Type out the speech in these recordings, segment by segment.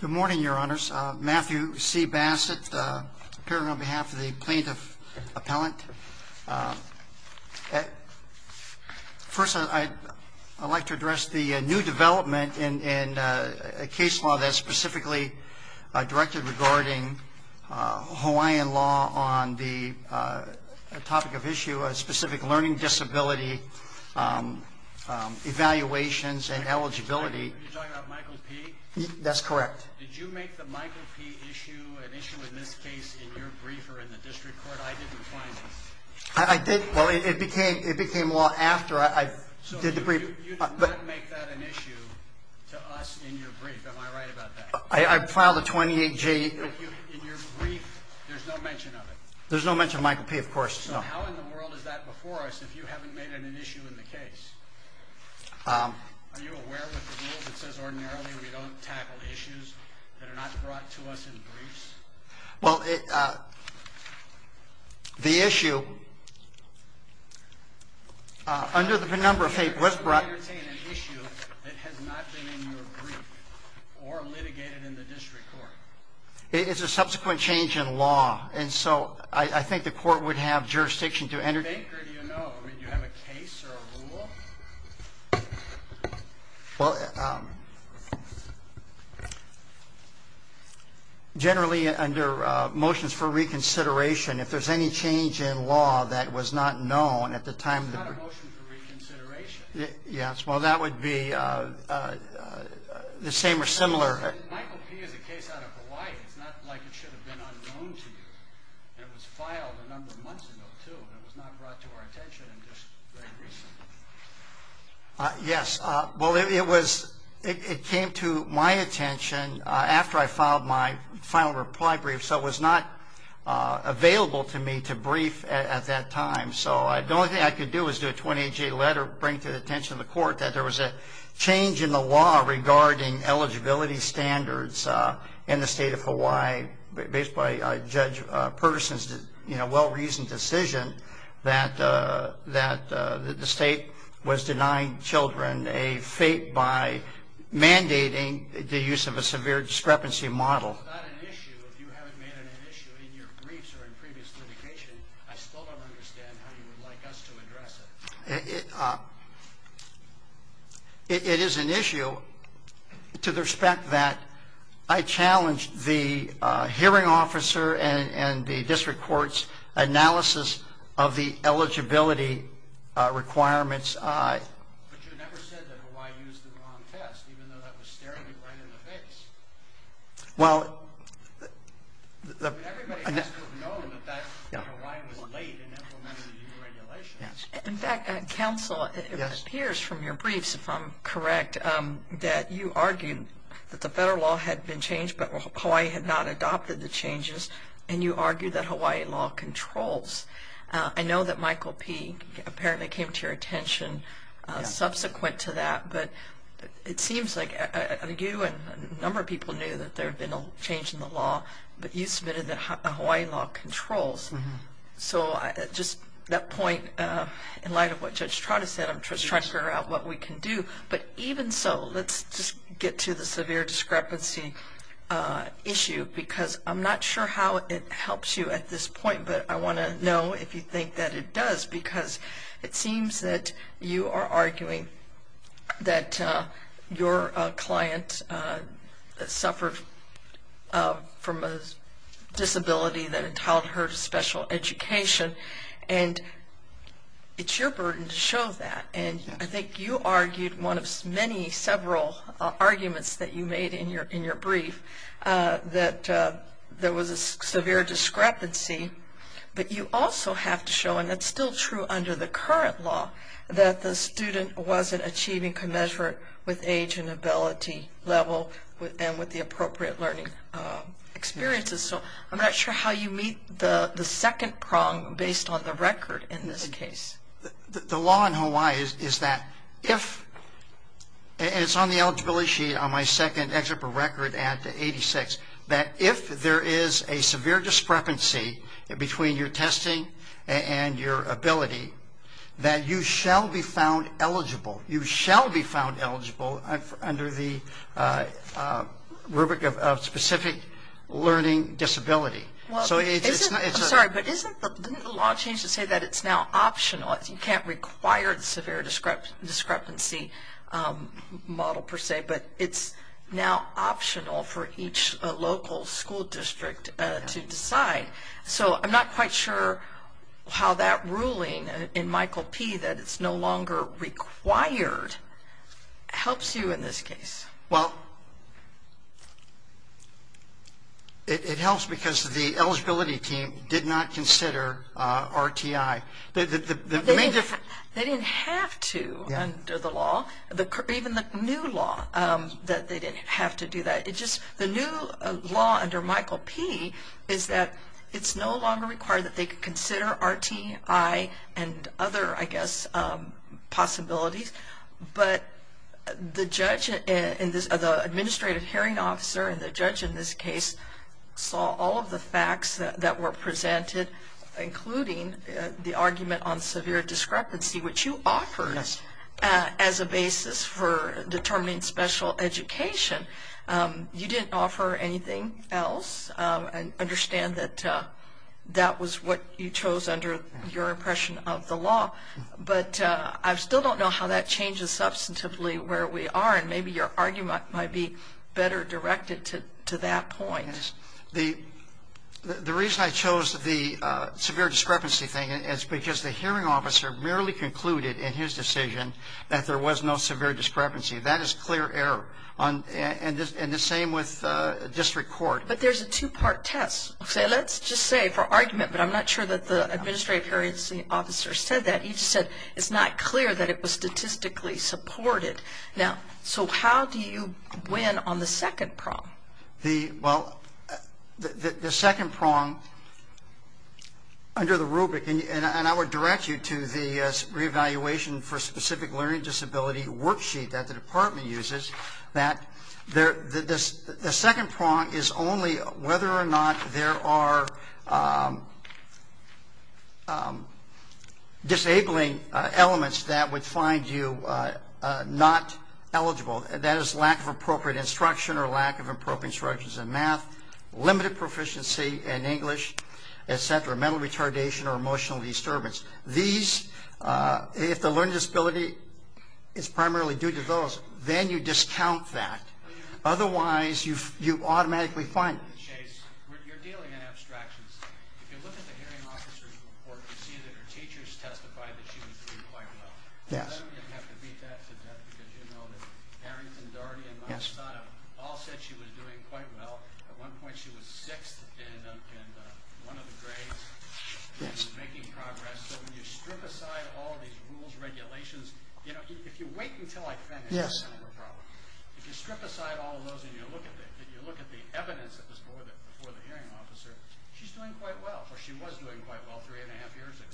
Good morning, Your Honors. Matthew C. Bassett, appearing on behalf of the Plaintiff Appellant. First, I'd like to address the new development in a case law that's specifically directed regarding Hawaiian law on the topic of issue, specific learning disability evaluations and issues that are not brought to us in briefs. Well, the issue, under the number of papers brought... You're saying an issue that has not been in your brief or litigated in the district court. It is a subsequent change in law, and so I think the court would have Generally, under motions for reconsideration, if there's any change in law that was not known at the time... It's not a motion for reconsideration. Yes, well that would be the same or similar... Michael P. is a case out of Hawaii. It's not like it should have been unknown to you. It was filed a number of months ago, too, and it was not brought to our attention just very recently. Yes, well it was... It came to my attention after I filed my final reply brief, so it was not available to me to brief at that time, so the only thing I could do was do a 28-day letter, bring to the attention of the court that there was a change in the law regarding eligibility standards in the state of Hawaii, based by Judge Pertuson's well-reasoned decision that the state was denying children a fate by mandating the use of a severe discrepancy model. It's not an issue if you haven't made it an issue in your briefs or in previous litigation. I still don't understand how you would like us to address it. It is an issue to the respect that I challenged the hearing officer and the district court's analysis of the eligibility requirements. But you never said that Hawaii used the wrong test, even though that was staring you right in the face. Well... Everybody must have known that Hawaii was late in implementing the new regulations. In fact, counsel, it appears from your briefs, if I'm correct, that you argued that the federal law had been changed, but Hawaii had not adopted the changes, and you argued that Hawaii law controls. I know that Michael P. apparently came to your attention subsequent to that, but it seems like you and a number of people knew that there had been a change in the law, but you submitted that Hawaii law controls. So just that point, in light of what Judge Trotter said, I'm just trying to figure out what we can do, but even so, let's just get to the severe discrepancy issue, because I'm not sure how it helps you at this point, but I want to know if you think that it does, because it seems that you are arguing that your client suffered from a disability that led to a special education, and it's your burden to show that, and I think you argued one of many several arguments that you made in your brief, that there was a severe discrepancy, but you also have to show, and that's still true under the current law, that the student wasn't achieving commensurate with age and ability level, and with the appropriate learning experiences, so I'm not sure how you meet the second prong based on the record in this case. The law in Hawaii is that if, and it's on the eligibility sheet on my second excerpt from record at 86, that if there is a severe discrepancy between your testing and your ability, that you shall be found eligible. You shall be found eligible under the rubric of specific learning disability. Sorry, but didn't the law change to say that it's now optional? You can't require the severe discrepancy model per se, but it's now optional for each local school district to decide, so I'm not quite sure how that ruling in Michael P. that it's no longer required helps you in this case. Well, it helps because the eligibility team did not consider RTI. They didn't have to under the law, even the new law, that they didn't have to do that. The new law under Michael P. is that it's no longer required that they consider RTI and other, I guess, possibilities, but the judge, the administrative hearing officer and the judge in this case saw all of the facts that were presented, including the argument on severe discrepancy, which you offered as a basis for determining special education. You didn't offer anything else. I understand that that was what you chose under your impression of the law, but I still don't know how that changes substantively where we are, and maybe your argument might be better directed to that point. The reason I chose the severe discrepancy thing is because the hearing officer merely concluded in his decision that there was no severe discrepancy. That is clear error, and the same with district court. But there's a two-part test. Let's just say for argument, but I'm not sure that the administrative hearing officer said that. He just said it's not clear that it was statistically supported. Now, so how do you win on the second prong? Well, the second prong under the rubric, and I would direct you to the re-evaluation for specific learning disability worksheet that the department uses, that the second prong is only whether or not there are disabling elements that would find you not eligible. That is lack of appropriate instruction or lack of appropriate instructions in math, limited proficiency in English, et cetera, mental retardation or emotional disturbance. These, if the learning disability is primarily due to those, then you discount that. Otherwise, you automatically find it. Chase, you're dealing in abstractions. If you look at the hearing officer's report, you see that her teachers testified that she was doing quite well. Does that mean we have to beat that to death? Because you know that Harrington, Doherty, and Malasada all said she was doing quite well. At one point she was sixth in one of the grades. She was making progress. So when you strip aside all these rules, regulations, you know, if you wait until I finish, that's kind of a problem. If you strip aside all of those and you look at the evidence that was before the hearing officer, she's doing quite well, or she was doing quite well three and a half years ago.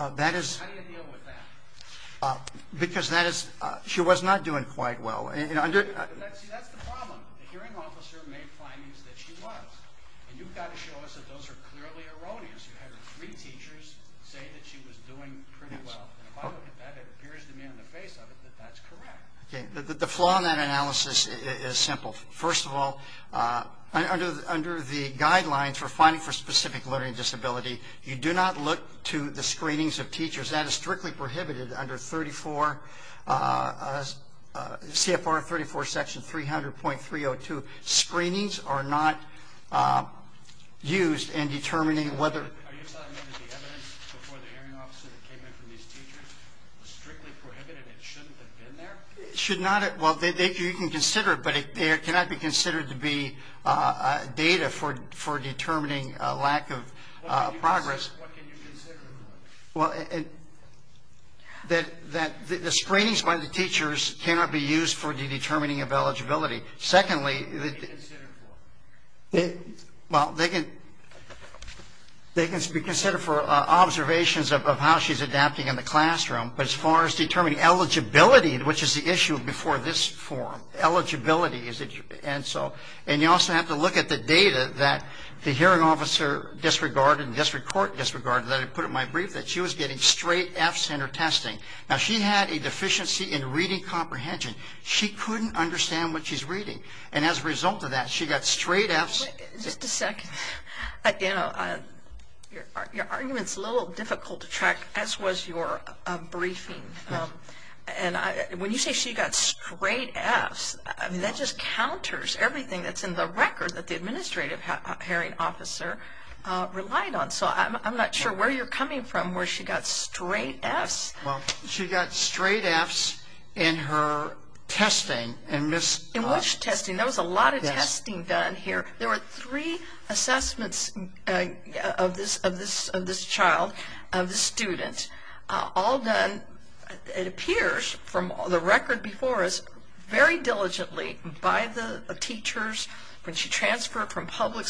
How do you deal with that? Because that is, she was not doing quite well. See, that's the problem. The hearing officer made findings that she was, and you've got to show us that those are clearly erroneous. You had her three teachers say that she was doing pretty well, and if I look at that, it appears to me on the face of it that that's correct. Okay. The flaw in that analysis is simple. First of all, under the guidelines for finding for specific learning disability, you do not look to the screenings of teachers. That is strictly prohibited under CFR 34, section 300.302. Screenings are not used in determining whether. Are you saying that the evidence before the hearing officer that came in from these teachers was strictly prohibited and it shouldn't have been there? Well, you can consider it, but it cannot be considered to be data for determining a lack of progress. What can you consider? Well, the screenings by the teachers cannot be used for the determining of eligibility. Secondly, they can be considered for observations of how she's adapting in the classroom, but as far as determining eligibility, which is the issue before this forum, eligibility, and you also have to look at the data that the hearing officer disregarded and put in my brief that she was getting straight F's in her testing. Now, she had a deficiency in reading comprehension. She couldn't understand what she's reading, and as a result of that, she got straight F's. Just a second. Your argument is a little difficult to track, as was your briefing. When you say she got straight F's, that just counters everything that's in the record that the administrative hearing officer relied on. So I'm not sure where you're coming from where she got straight F's. Well, she got straight F's in her testing. In which testing? There was a lot of testing done here. There were three assessments of this child, of this student, all done, it appears, from the record before us, very diligently by the teachers. When she transferred from public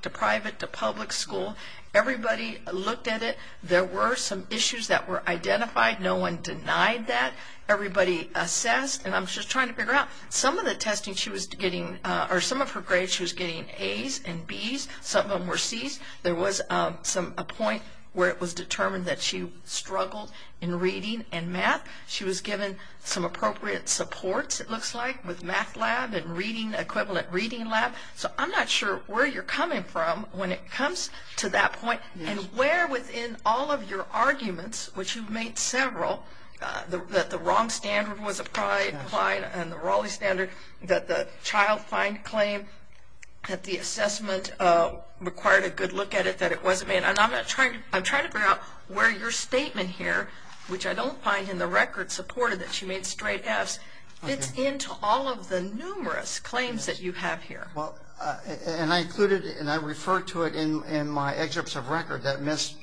to private to public school, everybody looked at it. There were some issues that were identified. No one denied that. Everybody assessed, and I'm just trying to figure out, some of the testing she was getting, or some of her grades she was getting A's and B's. Some of them were C's. There was a point where it was determined that she struggled in reading and math. She was given some appropriate supports, it looks like, with math lab and equivalent reading lab. So I'm not sure where you're coming from when it comes to that point, and where within all of your arguments, which you've made several, that the wrong standard was applied and the Raleigh standard, that the child find claim, that the assessment required a good look at it, that it wasn't made. And I'm trying to figure out where your statement here, which I don't find in the record supported that she made straight F's, fits into all of the numerous claims that you have here. Well, and I included, and I refer to it in my excerpts of record that Miss,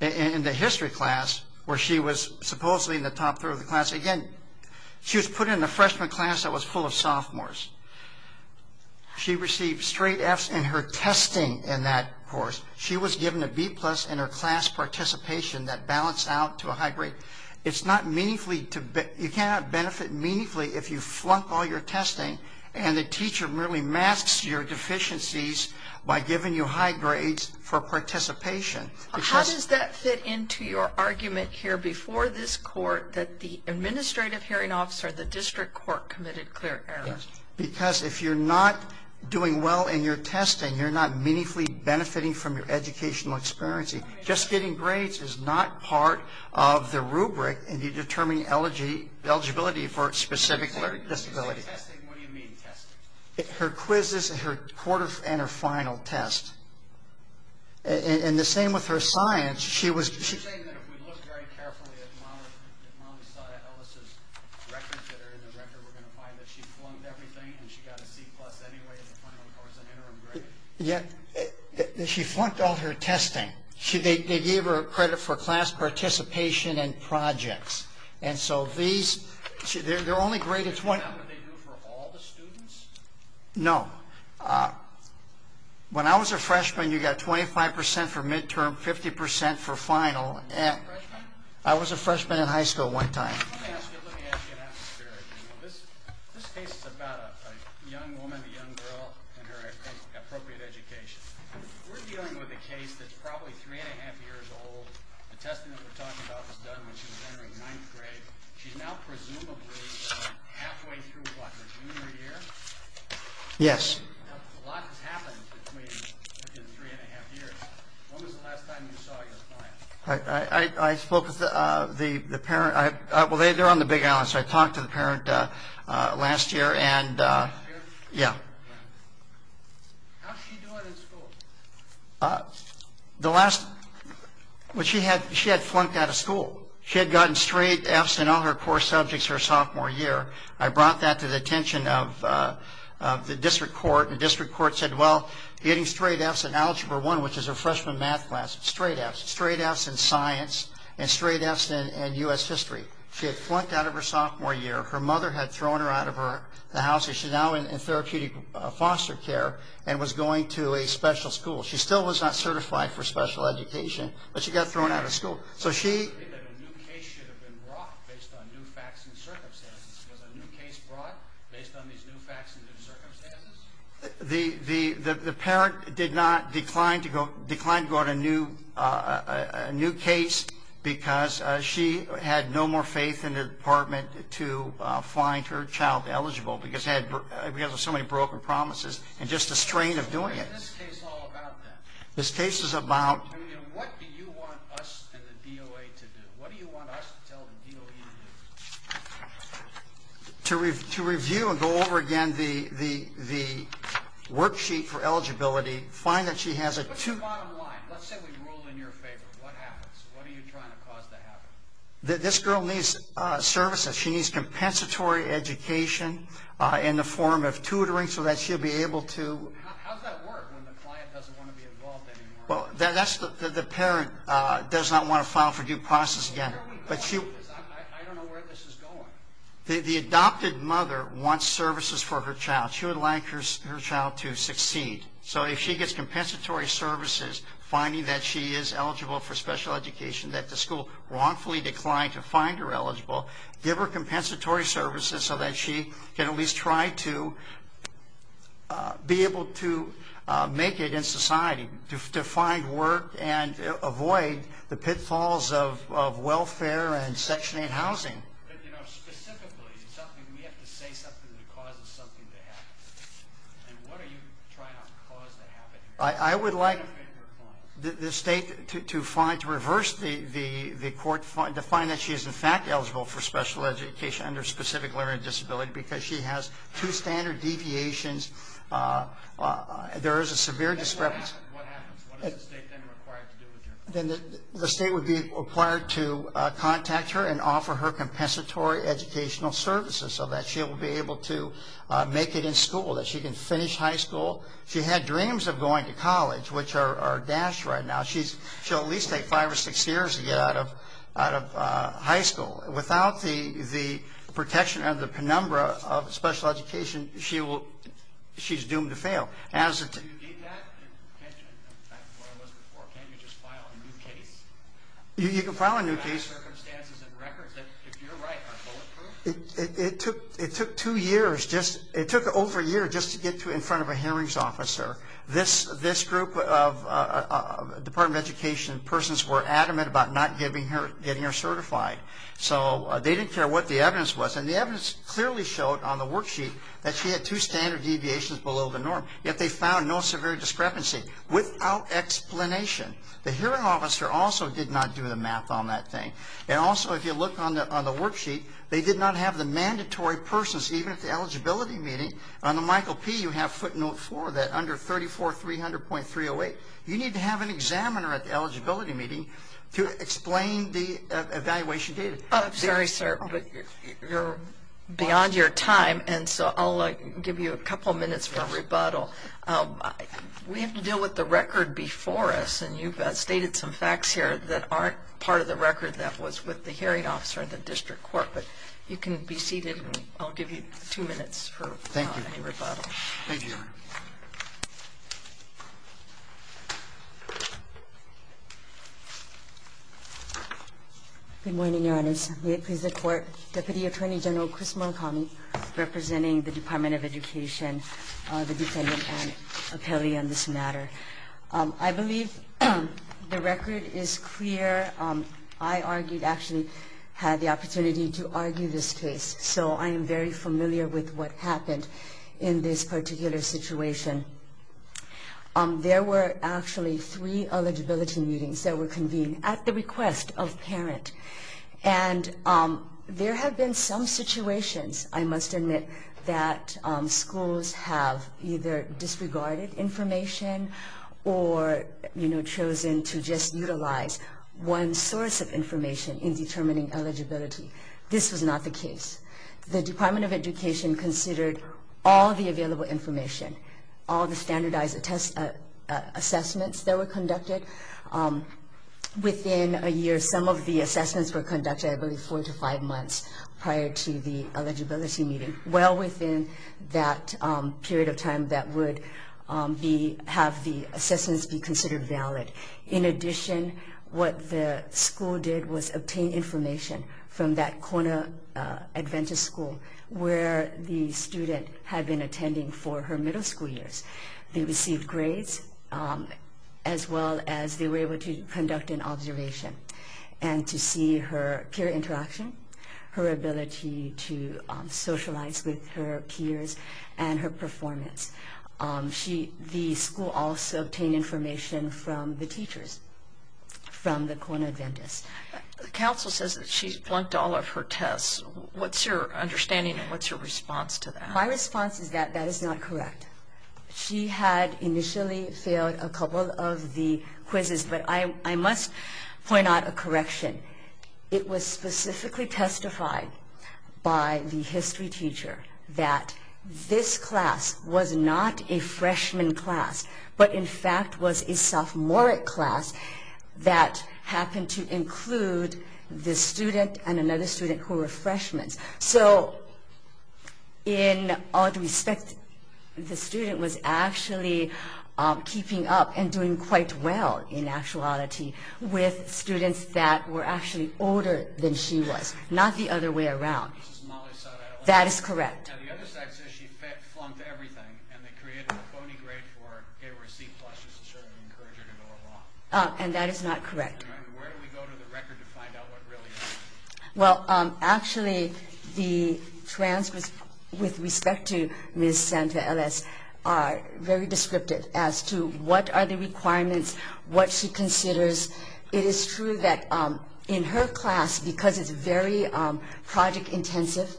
in the history class, where she was supposedly in the top third of the class. Again, she was put in a freshman class that was full of sophomores. She received straight F's in her testing in that course. She was given a B plus in her class participation that balanced out to a high grade. It's not meaningfully, you cannot benefit meaningfully if you flunk all your testing, and the teacher merely masks your deficiencies by giving you high grades for participation. How does that fit into your argument here before this court, that the administrative hearing officer of the district court committed clear errors? Because if you're not doing well in your testing, you're not meaningfully benefiting from your educational experience. Just getting grades is not part of the rubric, and you determine eligibility for a specific learning disability. When you say testing, what do you mean testing? Her quizzes and her final test. And the same with her science. You're saying that if we look very carefully at Molly Ellis' records that are in the record, we're going to find that she flunked everything, and she got a C plus anyway in the final course, an interim grade. Yeah, she flunked all her testing. They gave her credit for class participation and projects. And so these, they're only grades of 20. Is that what they do for all the students? No. When I was a freshman, you got 25% for midterm, 50% for final. Were you a freshman? I was a freshman in high school one time. Let me ask you an atmospheric one. This case is about a young woman, a young girl, and her appropriate education. We're dealing with a case that's probably three and a half years old. The testing that we're talking about was done when she was entering ninth grade. She's now presumably halfway through, what, her junior year? Yes. A lot has happened between the three and a half years. When was the last time you saw your client? I spoke with the parent. Well, they're on the Big Island, so I talked to the parent last year. Last year? Yeah. How's she doing in school? The last, she had flunked out of school. She had gotten straight F's in all her core subjects her sophomore year. I brought that to the attention of the district court, and the district court said, well, getting straight F's in Algebra I, which is her freshman math class, straight F's. Straight F's in science and straight F's in U.S. history. She had flunked out of her sophomore year. Her mother had thrown her out of the house. She's now in therapeutic foster care and was going to a special school. She still was not certified for special education, but she got thrown out of school. A new case should have been brought based on new facts and circumstances. Was a new case brought based on these new facts and new circumstances? The parent declined to go on a new case because she had no more faith in the department to find her child eligible because of so many broken promises and just the strain of doing it. What is this case all about, then? This case is about to review and go over again the worksheet for eligibility, find that she has a two- What's the bottom line? Let's say we rule in your favor. What happens? What are you trying to cause to happen? This girl needs services. She needs compensatory education in the form of tutoring so that she'll be able to How does that work when the client doesn't want to be involved anymore? The parent does not want to file for due process again. Where are we going? I don't know where this is going. The adopted mother wants services for her child. She would like her child to succeed. If she gets compensatory services, finding that she is eligible for special education, that the school wrongfully declined to find her eligible, give her compensatory services so that she can at least try to be able to make it in society, to find work and avoid the pitfalls of welfare and Section 8 housing. Specifically, we have to say something that causes something to happen. What are you trying to cause to happen? I would like the state to find, to reverse the court, to find that she is in fact eligible for special education under specific learning disability because she has two standard deviations. There is a severe discrepancy. What happens? What is the state then required to do with her? The state would be required to contact her and offer her compensatory educational services so that she'll be able to make it in school, that she can finish high school. If she had dreams of going to college, which are dashed right now, she'll at least take five or six years to get out of high school. Without the protection of the penumbra of special education, she's doomed to fail. Can you do that? Can you just file a new case? You can file a new case. Do you have circumstances and records that, if you're right, are bulletproof? It took over a year just to get in front of a hearings officer. This group of Department of Education persons were adamant about not getting her certified. So they didn't care what the evidence was. And the evidence clearly showed on the worksheet that she had two standard deviations below the norm. Yet they found no severe discrepancy. Without explanation. The hearing officer also did not do the math on that thing. And also, if you look on the worksheet, they did not have the mandatory persons, even at the eligibility meeting. On the Michael P., you have footnote 4, that under 34300.308, you need to have an examiner at the eligibility meeting to explain the evaluation data. I'm sorry, sir, but you're beyond your time, and so I'll give you a couple minutes for rebuttal. We have to deal with the record before us, and you've stated some facts here that aren't part of the record that was with the hearing officer in the district court. But you can be seated, and I'll give you two minutes for any rebuttal. Thank you. Thank you, Your Honor. Good morning, Your Honors. May it please the Court. Deputy Attorney General Chris Montgomery, representing the Department of Education, the defendant, and appellee on this matter. I believe the record is clear. I argued, actually had the opportunity to argue this case, so I am very familiar with what happened in this particular situation. There were actually three eligibility meetings that were convened at the request of parent. And there have been some situations, I must admit, that schools have either disregarded information or chosen to just utilize one source of information in determining eligibility. This was not the case. The Department of Education considered all the available information, all the standardized assessments that were conducted. Within a year, some of the assessments were conducted, I believe four to five months prior to the eligibility meeting, well within that period of time that would have the assessments be considered valid. In addition, what the school did was obtain information from that Kona Adventist School where the student had been attending for her middle school years. They received grades as well as they were able to conduct an observation. And to see her peer interaction, her ability to socialize with her peers and her performance. The school also obtained information from the teachers, from the Kona Adventists. The counsel says that she's blunked all of her tests. What's your understanding and what's your response to that? My response is that that is not correct. She had initially failed a couple of the quizzes, but I must point out a correction. It was specifically testified by the history teacher that this class was not a freshman class, but in fact was a sophomoric class that happened to include this student and another student who were freshmen. So in all due respect, the student was actually keeping up and doing quite well in actuality with students that were actually older than she was. Not the other way around. This is Molly Sutton. That is correct. Now the other side says she flunked everything and they created a phony grade for her. They were a C+. This is certainly encouraging her to go along. And that is not correct. And where do we go to the record to find out what really happened? Well, actually the transcripts with respect to Ms. Santa-Eles are very descriptive as to what are the requirements, what she considers. It is true that in her class, because it's very project-intensive,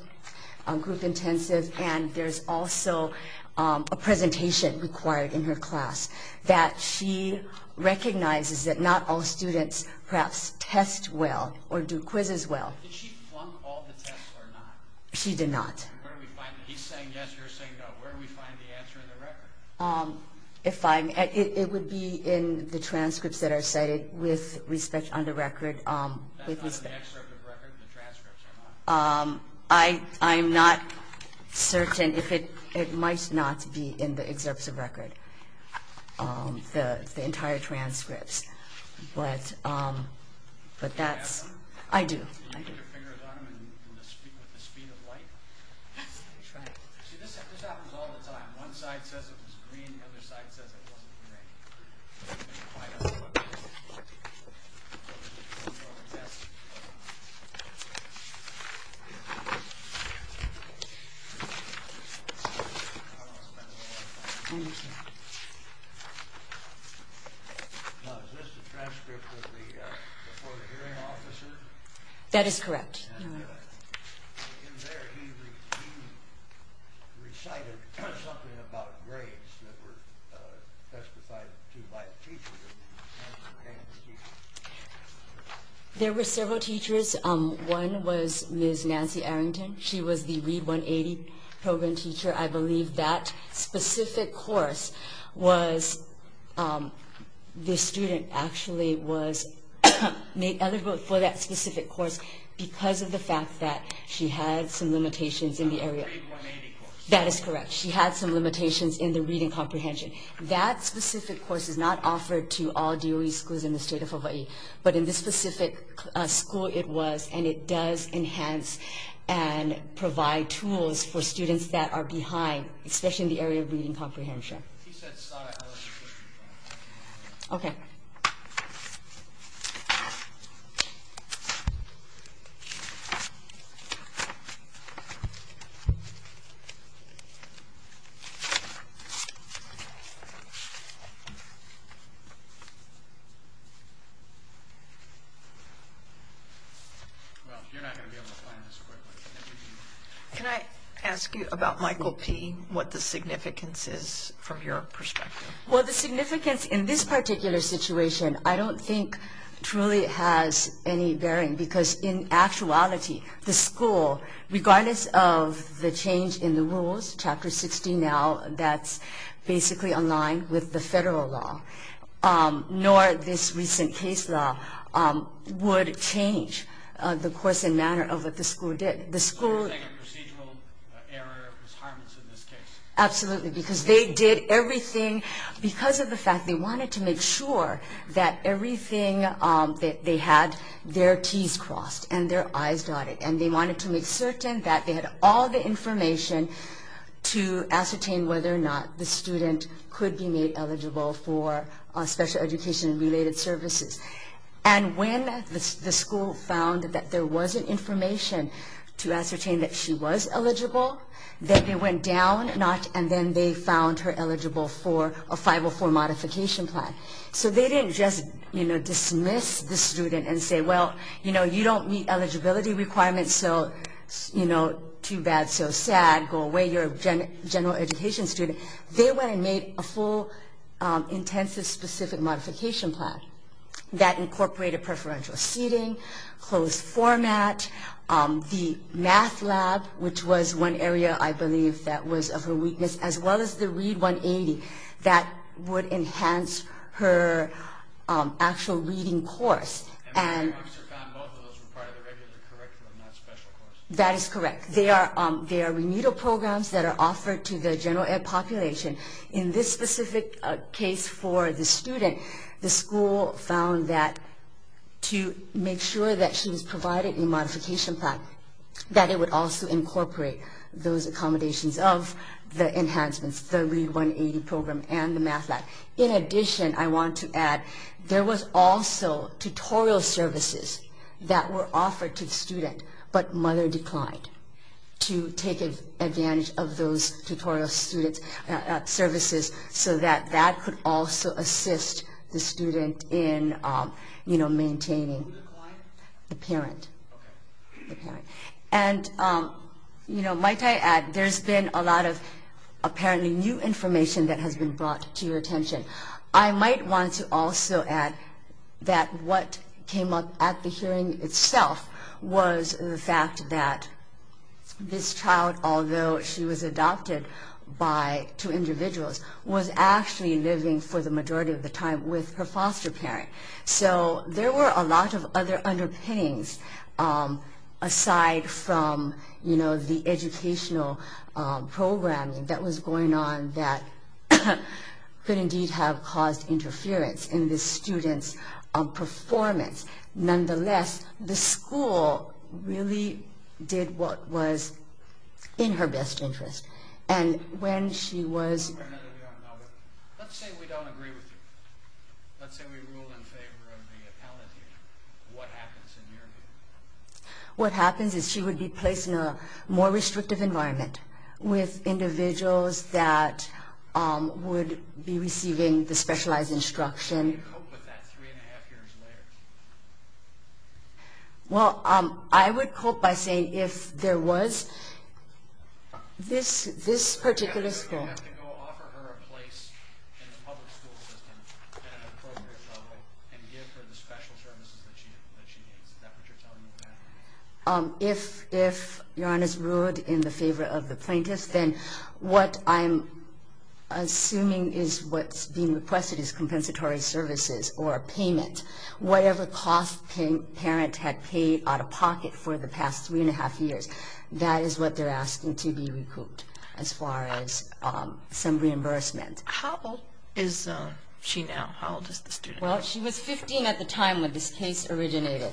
group-intensive, and there's also a presentation required in her class, that she recognizes that not all students perhaps test well or do quizzes well. Did she flunk all the tests or not? She did not. Where do we find it? He's saying yes, you're saying no. Where do we find the answer in the record? It would be in the transcripts that are cited with respect on the record. That's not in the excerpt of the record? The transcripts are not? I'm not certain. It might not be in the excerpts of record, the entire transcripts. But that's—I do. Do you put your fingers on them with the speed of light? Yes, I try. See, this happens all the time. One side says it was green, the other side says it wasn't green. I don't know what this is. Now, is this the transcript with the Florida hearing officer? That is correct. In there, he recited something about grades that were testified to by the teacher. There were several teachers. One was Ms. Nancy Arrington. She was the READ 180 program teacher. I believe that specific course was—the student actually was made eligible for that specific course because of the fact that she had some limitations in the area— The READ 180 course. That is correct. She had some limitations in the reading comprehension. That specific course is not offered to all DOE schools in the state of Hawaii. But in this specific school, it was. And it does enhance and provide tools for students that are behind, especially in the area of reading comprehension. If he said psi, I was confused. Okay. Thank you. Well, you're not going to be able to find this quickly. Can I ask you about Michael P., what the significance is from your perspective? Well, the significance in this particular situation I don't think truly has any bearing because in actuality the school, regardless of the change in the rules, Chapter 60 now, that's basically aligned with the federal law, nor this recent case law would change the course and manner of what the school did. So you're saying a procedural error is harmless in this case? Absolutely, because they did everything— And their eyes dotted. And they wanted to make certain that they had all the information to ascertain whether or not the student could be made eligible for special education and related services. And when the school found that there wasn't information to ascertain that she was eligible, then they went down a notch and then they found her eligible for a 504 modification plan. So they didn't just dismiss the student and say, well, you don't meet eligibility requirements, so too bad, so sad, go away, you're a general education student. They went and made a full intensive specific modification plan that incorporated preferential seating, closed format, the math lab, which was one area I believe that was of her weakness, as well as the READ 180 that would enhance her actual reading course. That is correct. They are renewal programs that are offered to the general ed population. In this specific case for the student, the school found that to make sure that she was provided a modification plan, that it would also incorporate those accommodations of the enhancements, the READ 180 program and the math lab. In addition, I want to add, there was also tutorial services that were offered to the student, but mother declined to take advantage of those tutorial services so that that could also assist the student in maintaining the parent. And might I add, there's been a lot of apparently new information that has been brought to your attention. I might want to also add that what came up at the hearing itself was the fact that this child, although she was adopted by two individuals, was actually living for the majority of the time with her foster parent. So there were a lot of other underpinnings aside from the educational program that was going on that could indeed have caused interference in the student's performance. Nonetheless, the school really did what was in her best interest. And when she was... Let's say we don't agree with you. Let's say we rule in favor of the appellate teacher. What happens in your view? What happens is she would be placed in a more restrictive environment with individuals that would be receiving the specialized instruction. How do you cope with that three and a half years later? Well, I would cope by saying if there was this particular school... You have to go offer her a place in the public school system at an appropriate level and give her the special services that she needs. Is that what you're telling me about? If your Honor's ruled in the favor of the plaintiff, then what I'm assuming is what's being requested is compensatory services or a payment. Whatever cost the parent had paid out of pocket for the past three and a half years, that is what they're asking to be recouped as far as some reimbursement. How old is she now? How old is the student? Well, she was 15 at the time when this case originated.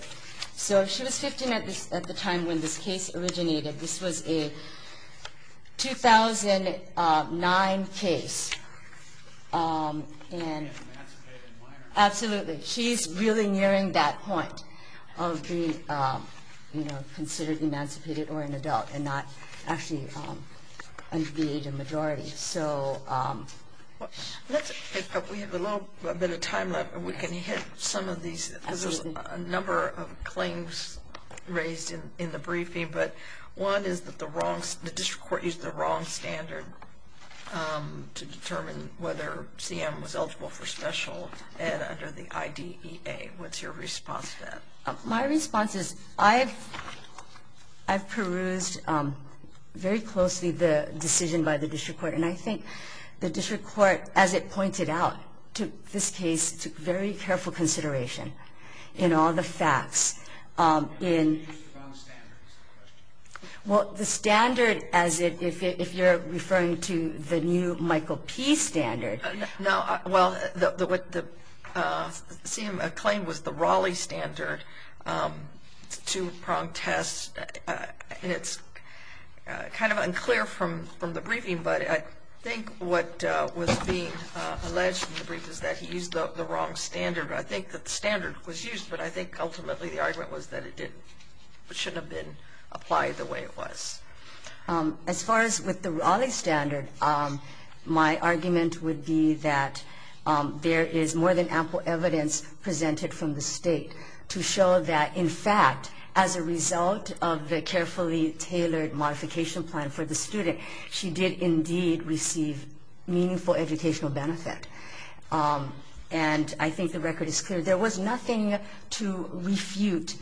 So she was 15 at the time when this case originated. This was a 2009 case. Absolutely. She's really nearing that point of being considered emancipated or an adult and not actually under the age of majority. We have a little bit of time left. We can hit some of these. There's a number of claims raised in the briefing. But one is that the district court used the wrong standard to determine whether CM was eligible for special ed under the IDEA. What's your response to that? My response is I've perused very closely the decision by the district court. And I think the district court, as it pointed out, took this case to very careful consideration in all the facts. Well, the standard as if you're referring to the new Michael P. standard. No, well, the claim was the Raleigh standard. It's a two-pronged test. And it's kind of unclear from the briefing. But I think what was being alleged in the brief is that he used the wrong standard. I think the standard was used, but I think ultimately the argument was that it didn't. It shouldn't have been applied the way it was. As far as with the Raleigh standard, my argument would be that there is more than ample evidence presented from the state to show that, in fact, as a result of the carefully tailored modification plan for the student, she did indeed receive meaningful educational benefit. And I think the record is clear. There was nothing to refute.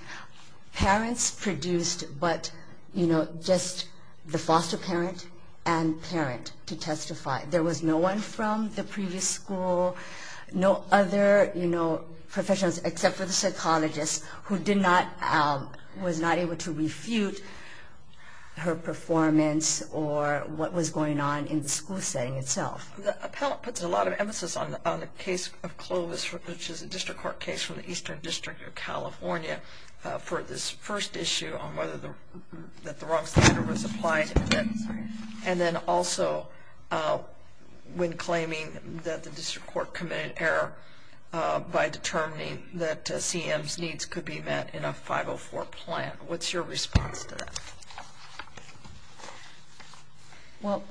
Parents produced, but, you know, just the foster parent and parent to testify. There was no one from the previous school, no other, you know, professionals, except for the psychologist, who was not able to refute her performance or what was going on in the school setting itself. The appellant puts a lot of emphasis on the case of Clovis, which is a district court case from the Eastern District of California, for this first issue on whether the wrong standard was applied. And then also when claiming that the district court committed error by determining that CM's needs could be met in a 504 plan. What's your response to that? Well,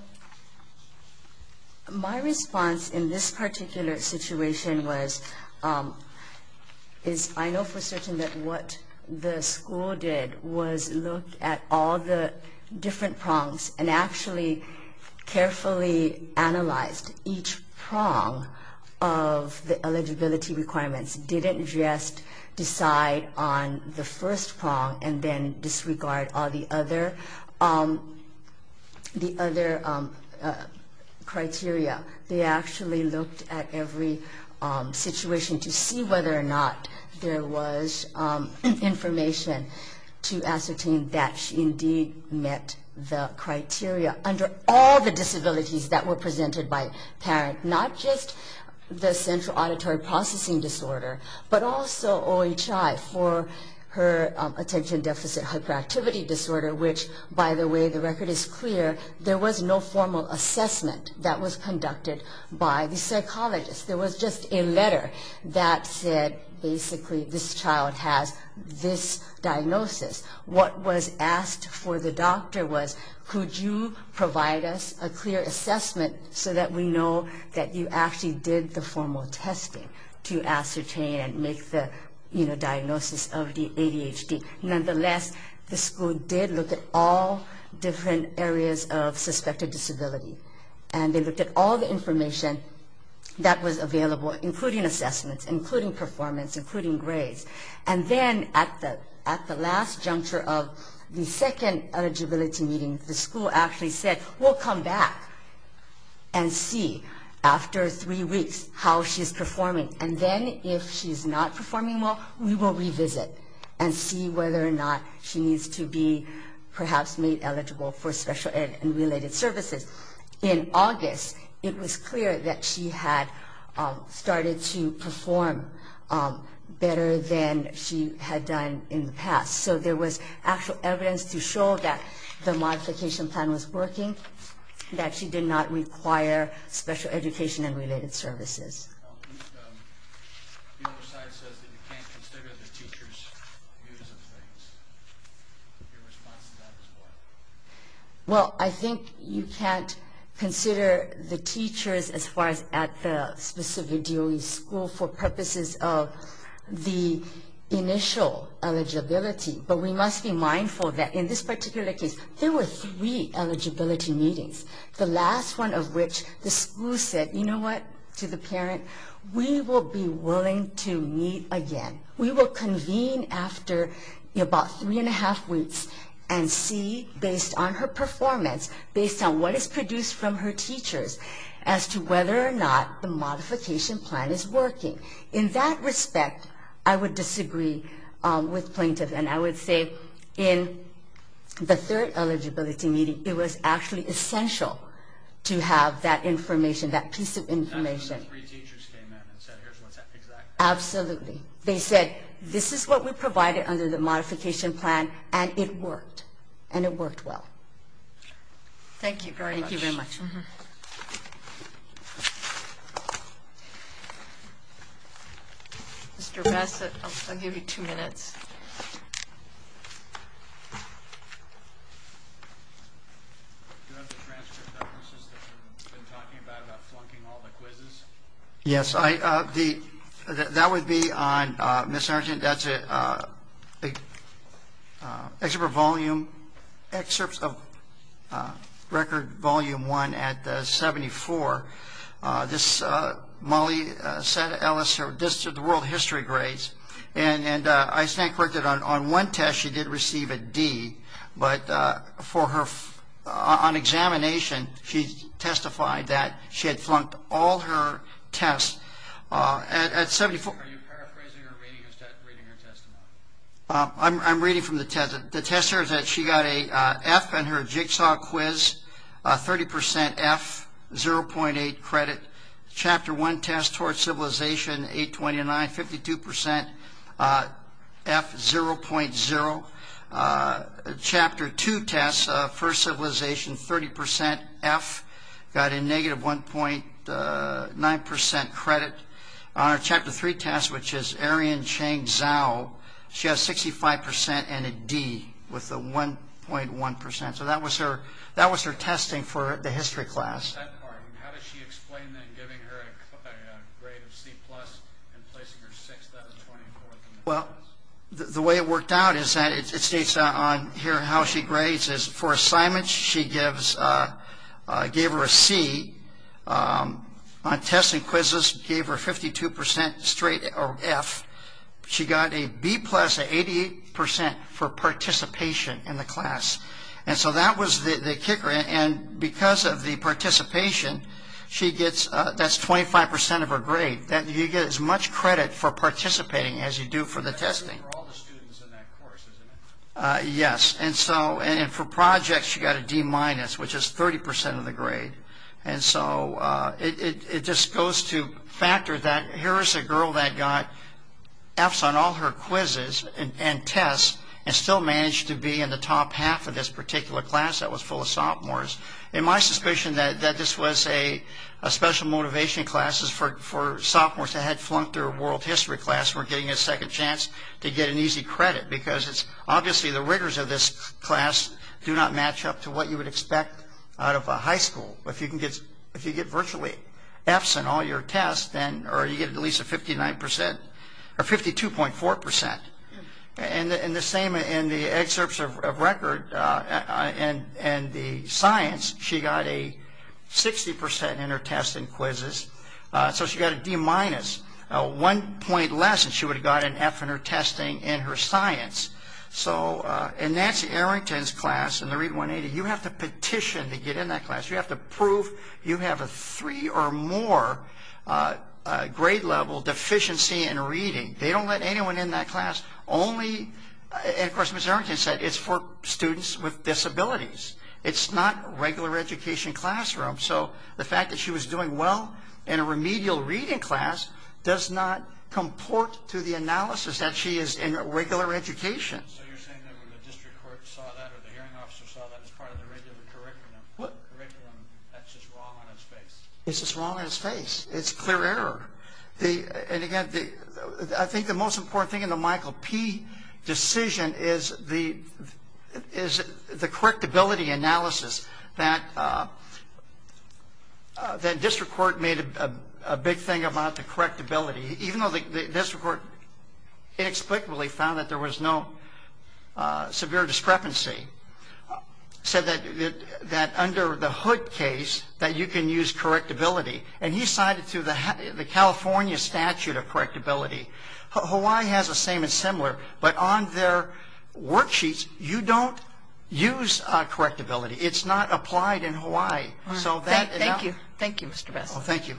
my response in this particular situation was, is I know for certain that what the school did was look at all the different prongs and actually carefully analyzed each prong of the eligibility requirements. Didn't just decide on the first prong and then disregard all the other criteria. They actually looked at every situation to see whether or not there was information to ascertain that she indeed met the criteria under all the disabilities that were presented by parent. Not just the central auditory processing disorder, but also OHI for her attention deficit hyperactivity disorder, which, by the way, the record is clear, there was no formal assessment that was conducted by the psychologist. There was just a letter that said basically this child has this diagnosis. What was asked for the doctor was could you provide us a clear assessment so that we know that you actually did the formal testing to ascertain and make the diagnosis of the ADHD. Nonetheless, the school did look at all different areas of suspected disability. And they looked at all the information that was available, including assessments, including performance, including grades. And then at the last juncture of the second eligibility meeting, the school actually said we'll come back and see after three weeks how she's performing. And then if she's not performing well, we will revisit and see whether or not she needs to be perhaps made eligible for special ed and related services. In August, it was clear that she had started to perform better than she had done in the past. So there was actual evidence to show that the modification plan was working, that she did not require special education and related services. Well, I think you can't consider the teachers as far as at the specific DOE school for purposes of the initial eligibility. But we must be mindful that in this particular case, there were three eligibility meetings, the last one of which the school said, you know what, to the parents, we will be willing to meet again. We will convene after about three and a half weeks and see, based on her performance, based on what is produced from her teachers, as to whether or not the modification plan is working. In that respect, I would disagree with plaintiff. And I would say in the third eligibility meeting, it was actually essential to have that information, that piece of information. That's when the three teachers came in and said, here's what's exactly. Absolutely. They said, this is what we provided under the modification plan, and it worked. And it worked well. Thank you very much. Thank you very much. Mr. Bassett, I'll give you two minutes. Do you have the transcript of the system you've been talking about, about flunking all the quizzes? Yes. That would be on, Ms. Argent, that's an excerpt of record volume one at the 74. This, Molly said, the world history grades. And I stand corrected on one test, she did receive a D. But for her, on examination, she testified that she had flunked all her tests at 74. Are you paraphrasing or reading her testimony? I'm reading from the test. The test here is that she got an F on her jigsaw quiz, 30% F, 0.8 credit. Chapter one test, Towards Civilization, 829, 52% F, 0.0. Chapter two test, First Civilization, 30% F, got a negative 1.9% credit. On her chapter three test, which is Aryan Chang Zhao, she has 65% and a D, with a 1.1%. So that was her testing for the history class. How did she explain that, giving her a grade of C+, and placing her 6th, that was 24th? Well, the way it worked out is that it states on here how she grades, is for assignments, she gave her a C. On testing quizzes, gave her 52% straight F. She got a B+, an 88% for participation in the class. And so that was the kicker. And because of the participation, that's 25% of her grade. You get as much credit for participating as you do for the testing. That's true for all the students in that course, isn't it? Yes. And for projects, she got a D-, which is 30% of the grade. And so it just goes to factor that here is a girl that got Fs on all her quizzes and tests, and still managed to be in the top half of this particular class that was full of sophomores. And my suspicion that this was a special motivation class is for sophomores that had flunked their world history class weren't getting a second chance to get an easy credit, because obviously the rigors of this class do not match up to what you would expect out of a high school. If you get virtually Fs in all your tests, then you get at least a 59% or 52.4%. And the same in the excerpts of record and the science, she got a 60% in her tests and quizzes. So she got a D-, one point less, and she would have gotten an F in her testing and her science. So in Nancy Arrington's class, in the READ 180, you have to petition to get in that class. You have to prove you have a three or more grade level deficiency in reading. They don't let anyone in that class. Only, and of course Ms. Arrington said, it's for students with disabilities. It's not a regular education classroom. So the fact that she was doing well in a remedial reading class does not comport to the analysis that she is in a regular education. So you're saying that when the district court saw that or the hearing officer saw that as part of the regular curriculum, that's just wrong on its face? It's just wrong on its face. It's clear error. And again, I think the most important thing in the Michael P. decision is the correctability analysis that district court made a big thing about the correctability. Even though the district court inexplicably found that there was no severe discrepancy, said that under the Hood case that you can use correctability, and he cited through the California statute of correctability. Hawaii has the same and similar, but on their worksheets you don't use correctability. It's not applied in Hawaii. Thank you. Thank you, Mr. Besson. Thank you.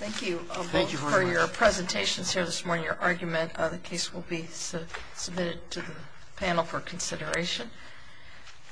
Thank you for your presentations here this morning. Your argument of the case will be submitted to the panel for consideration.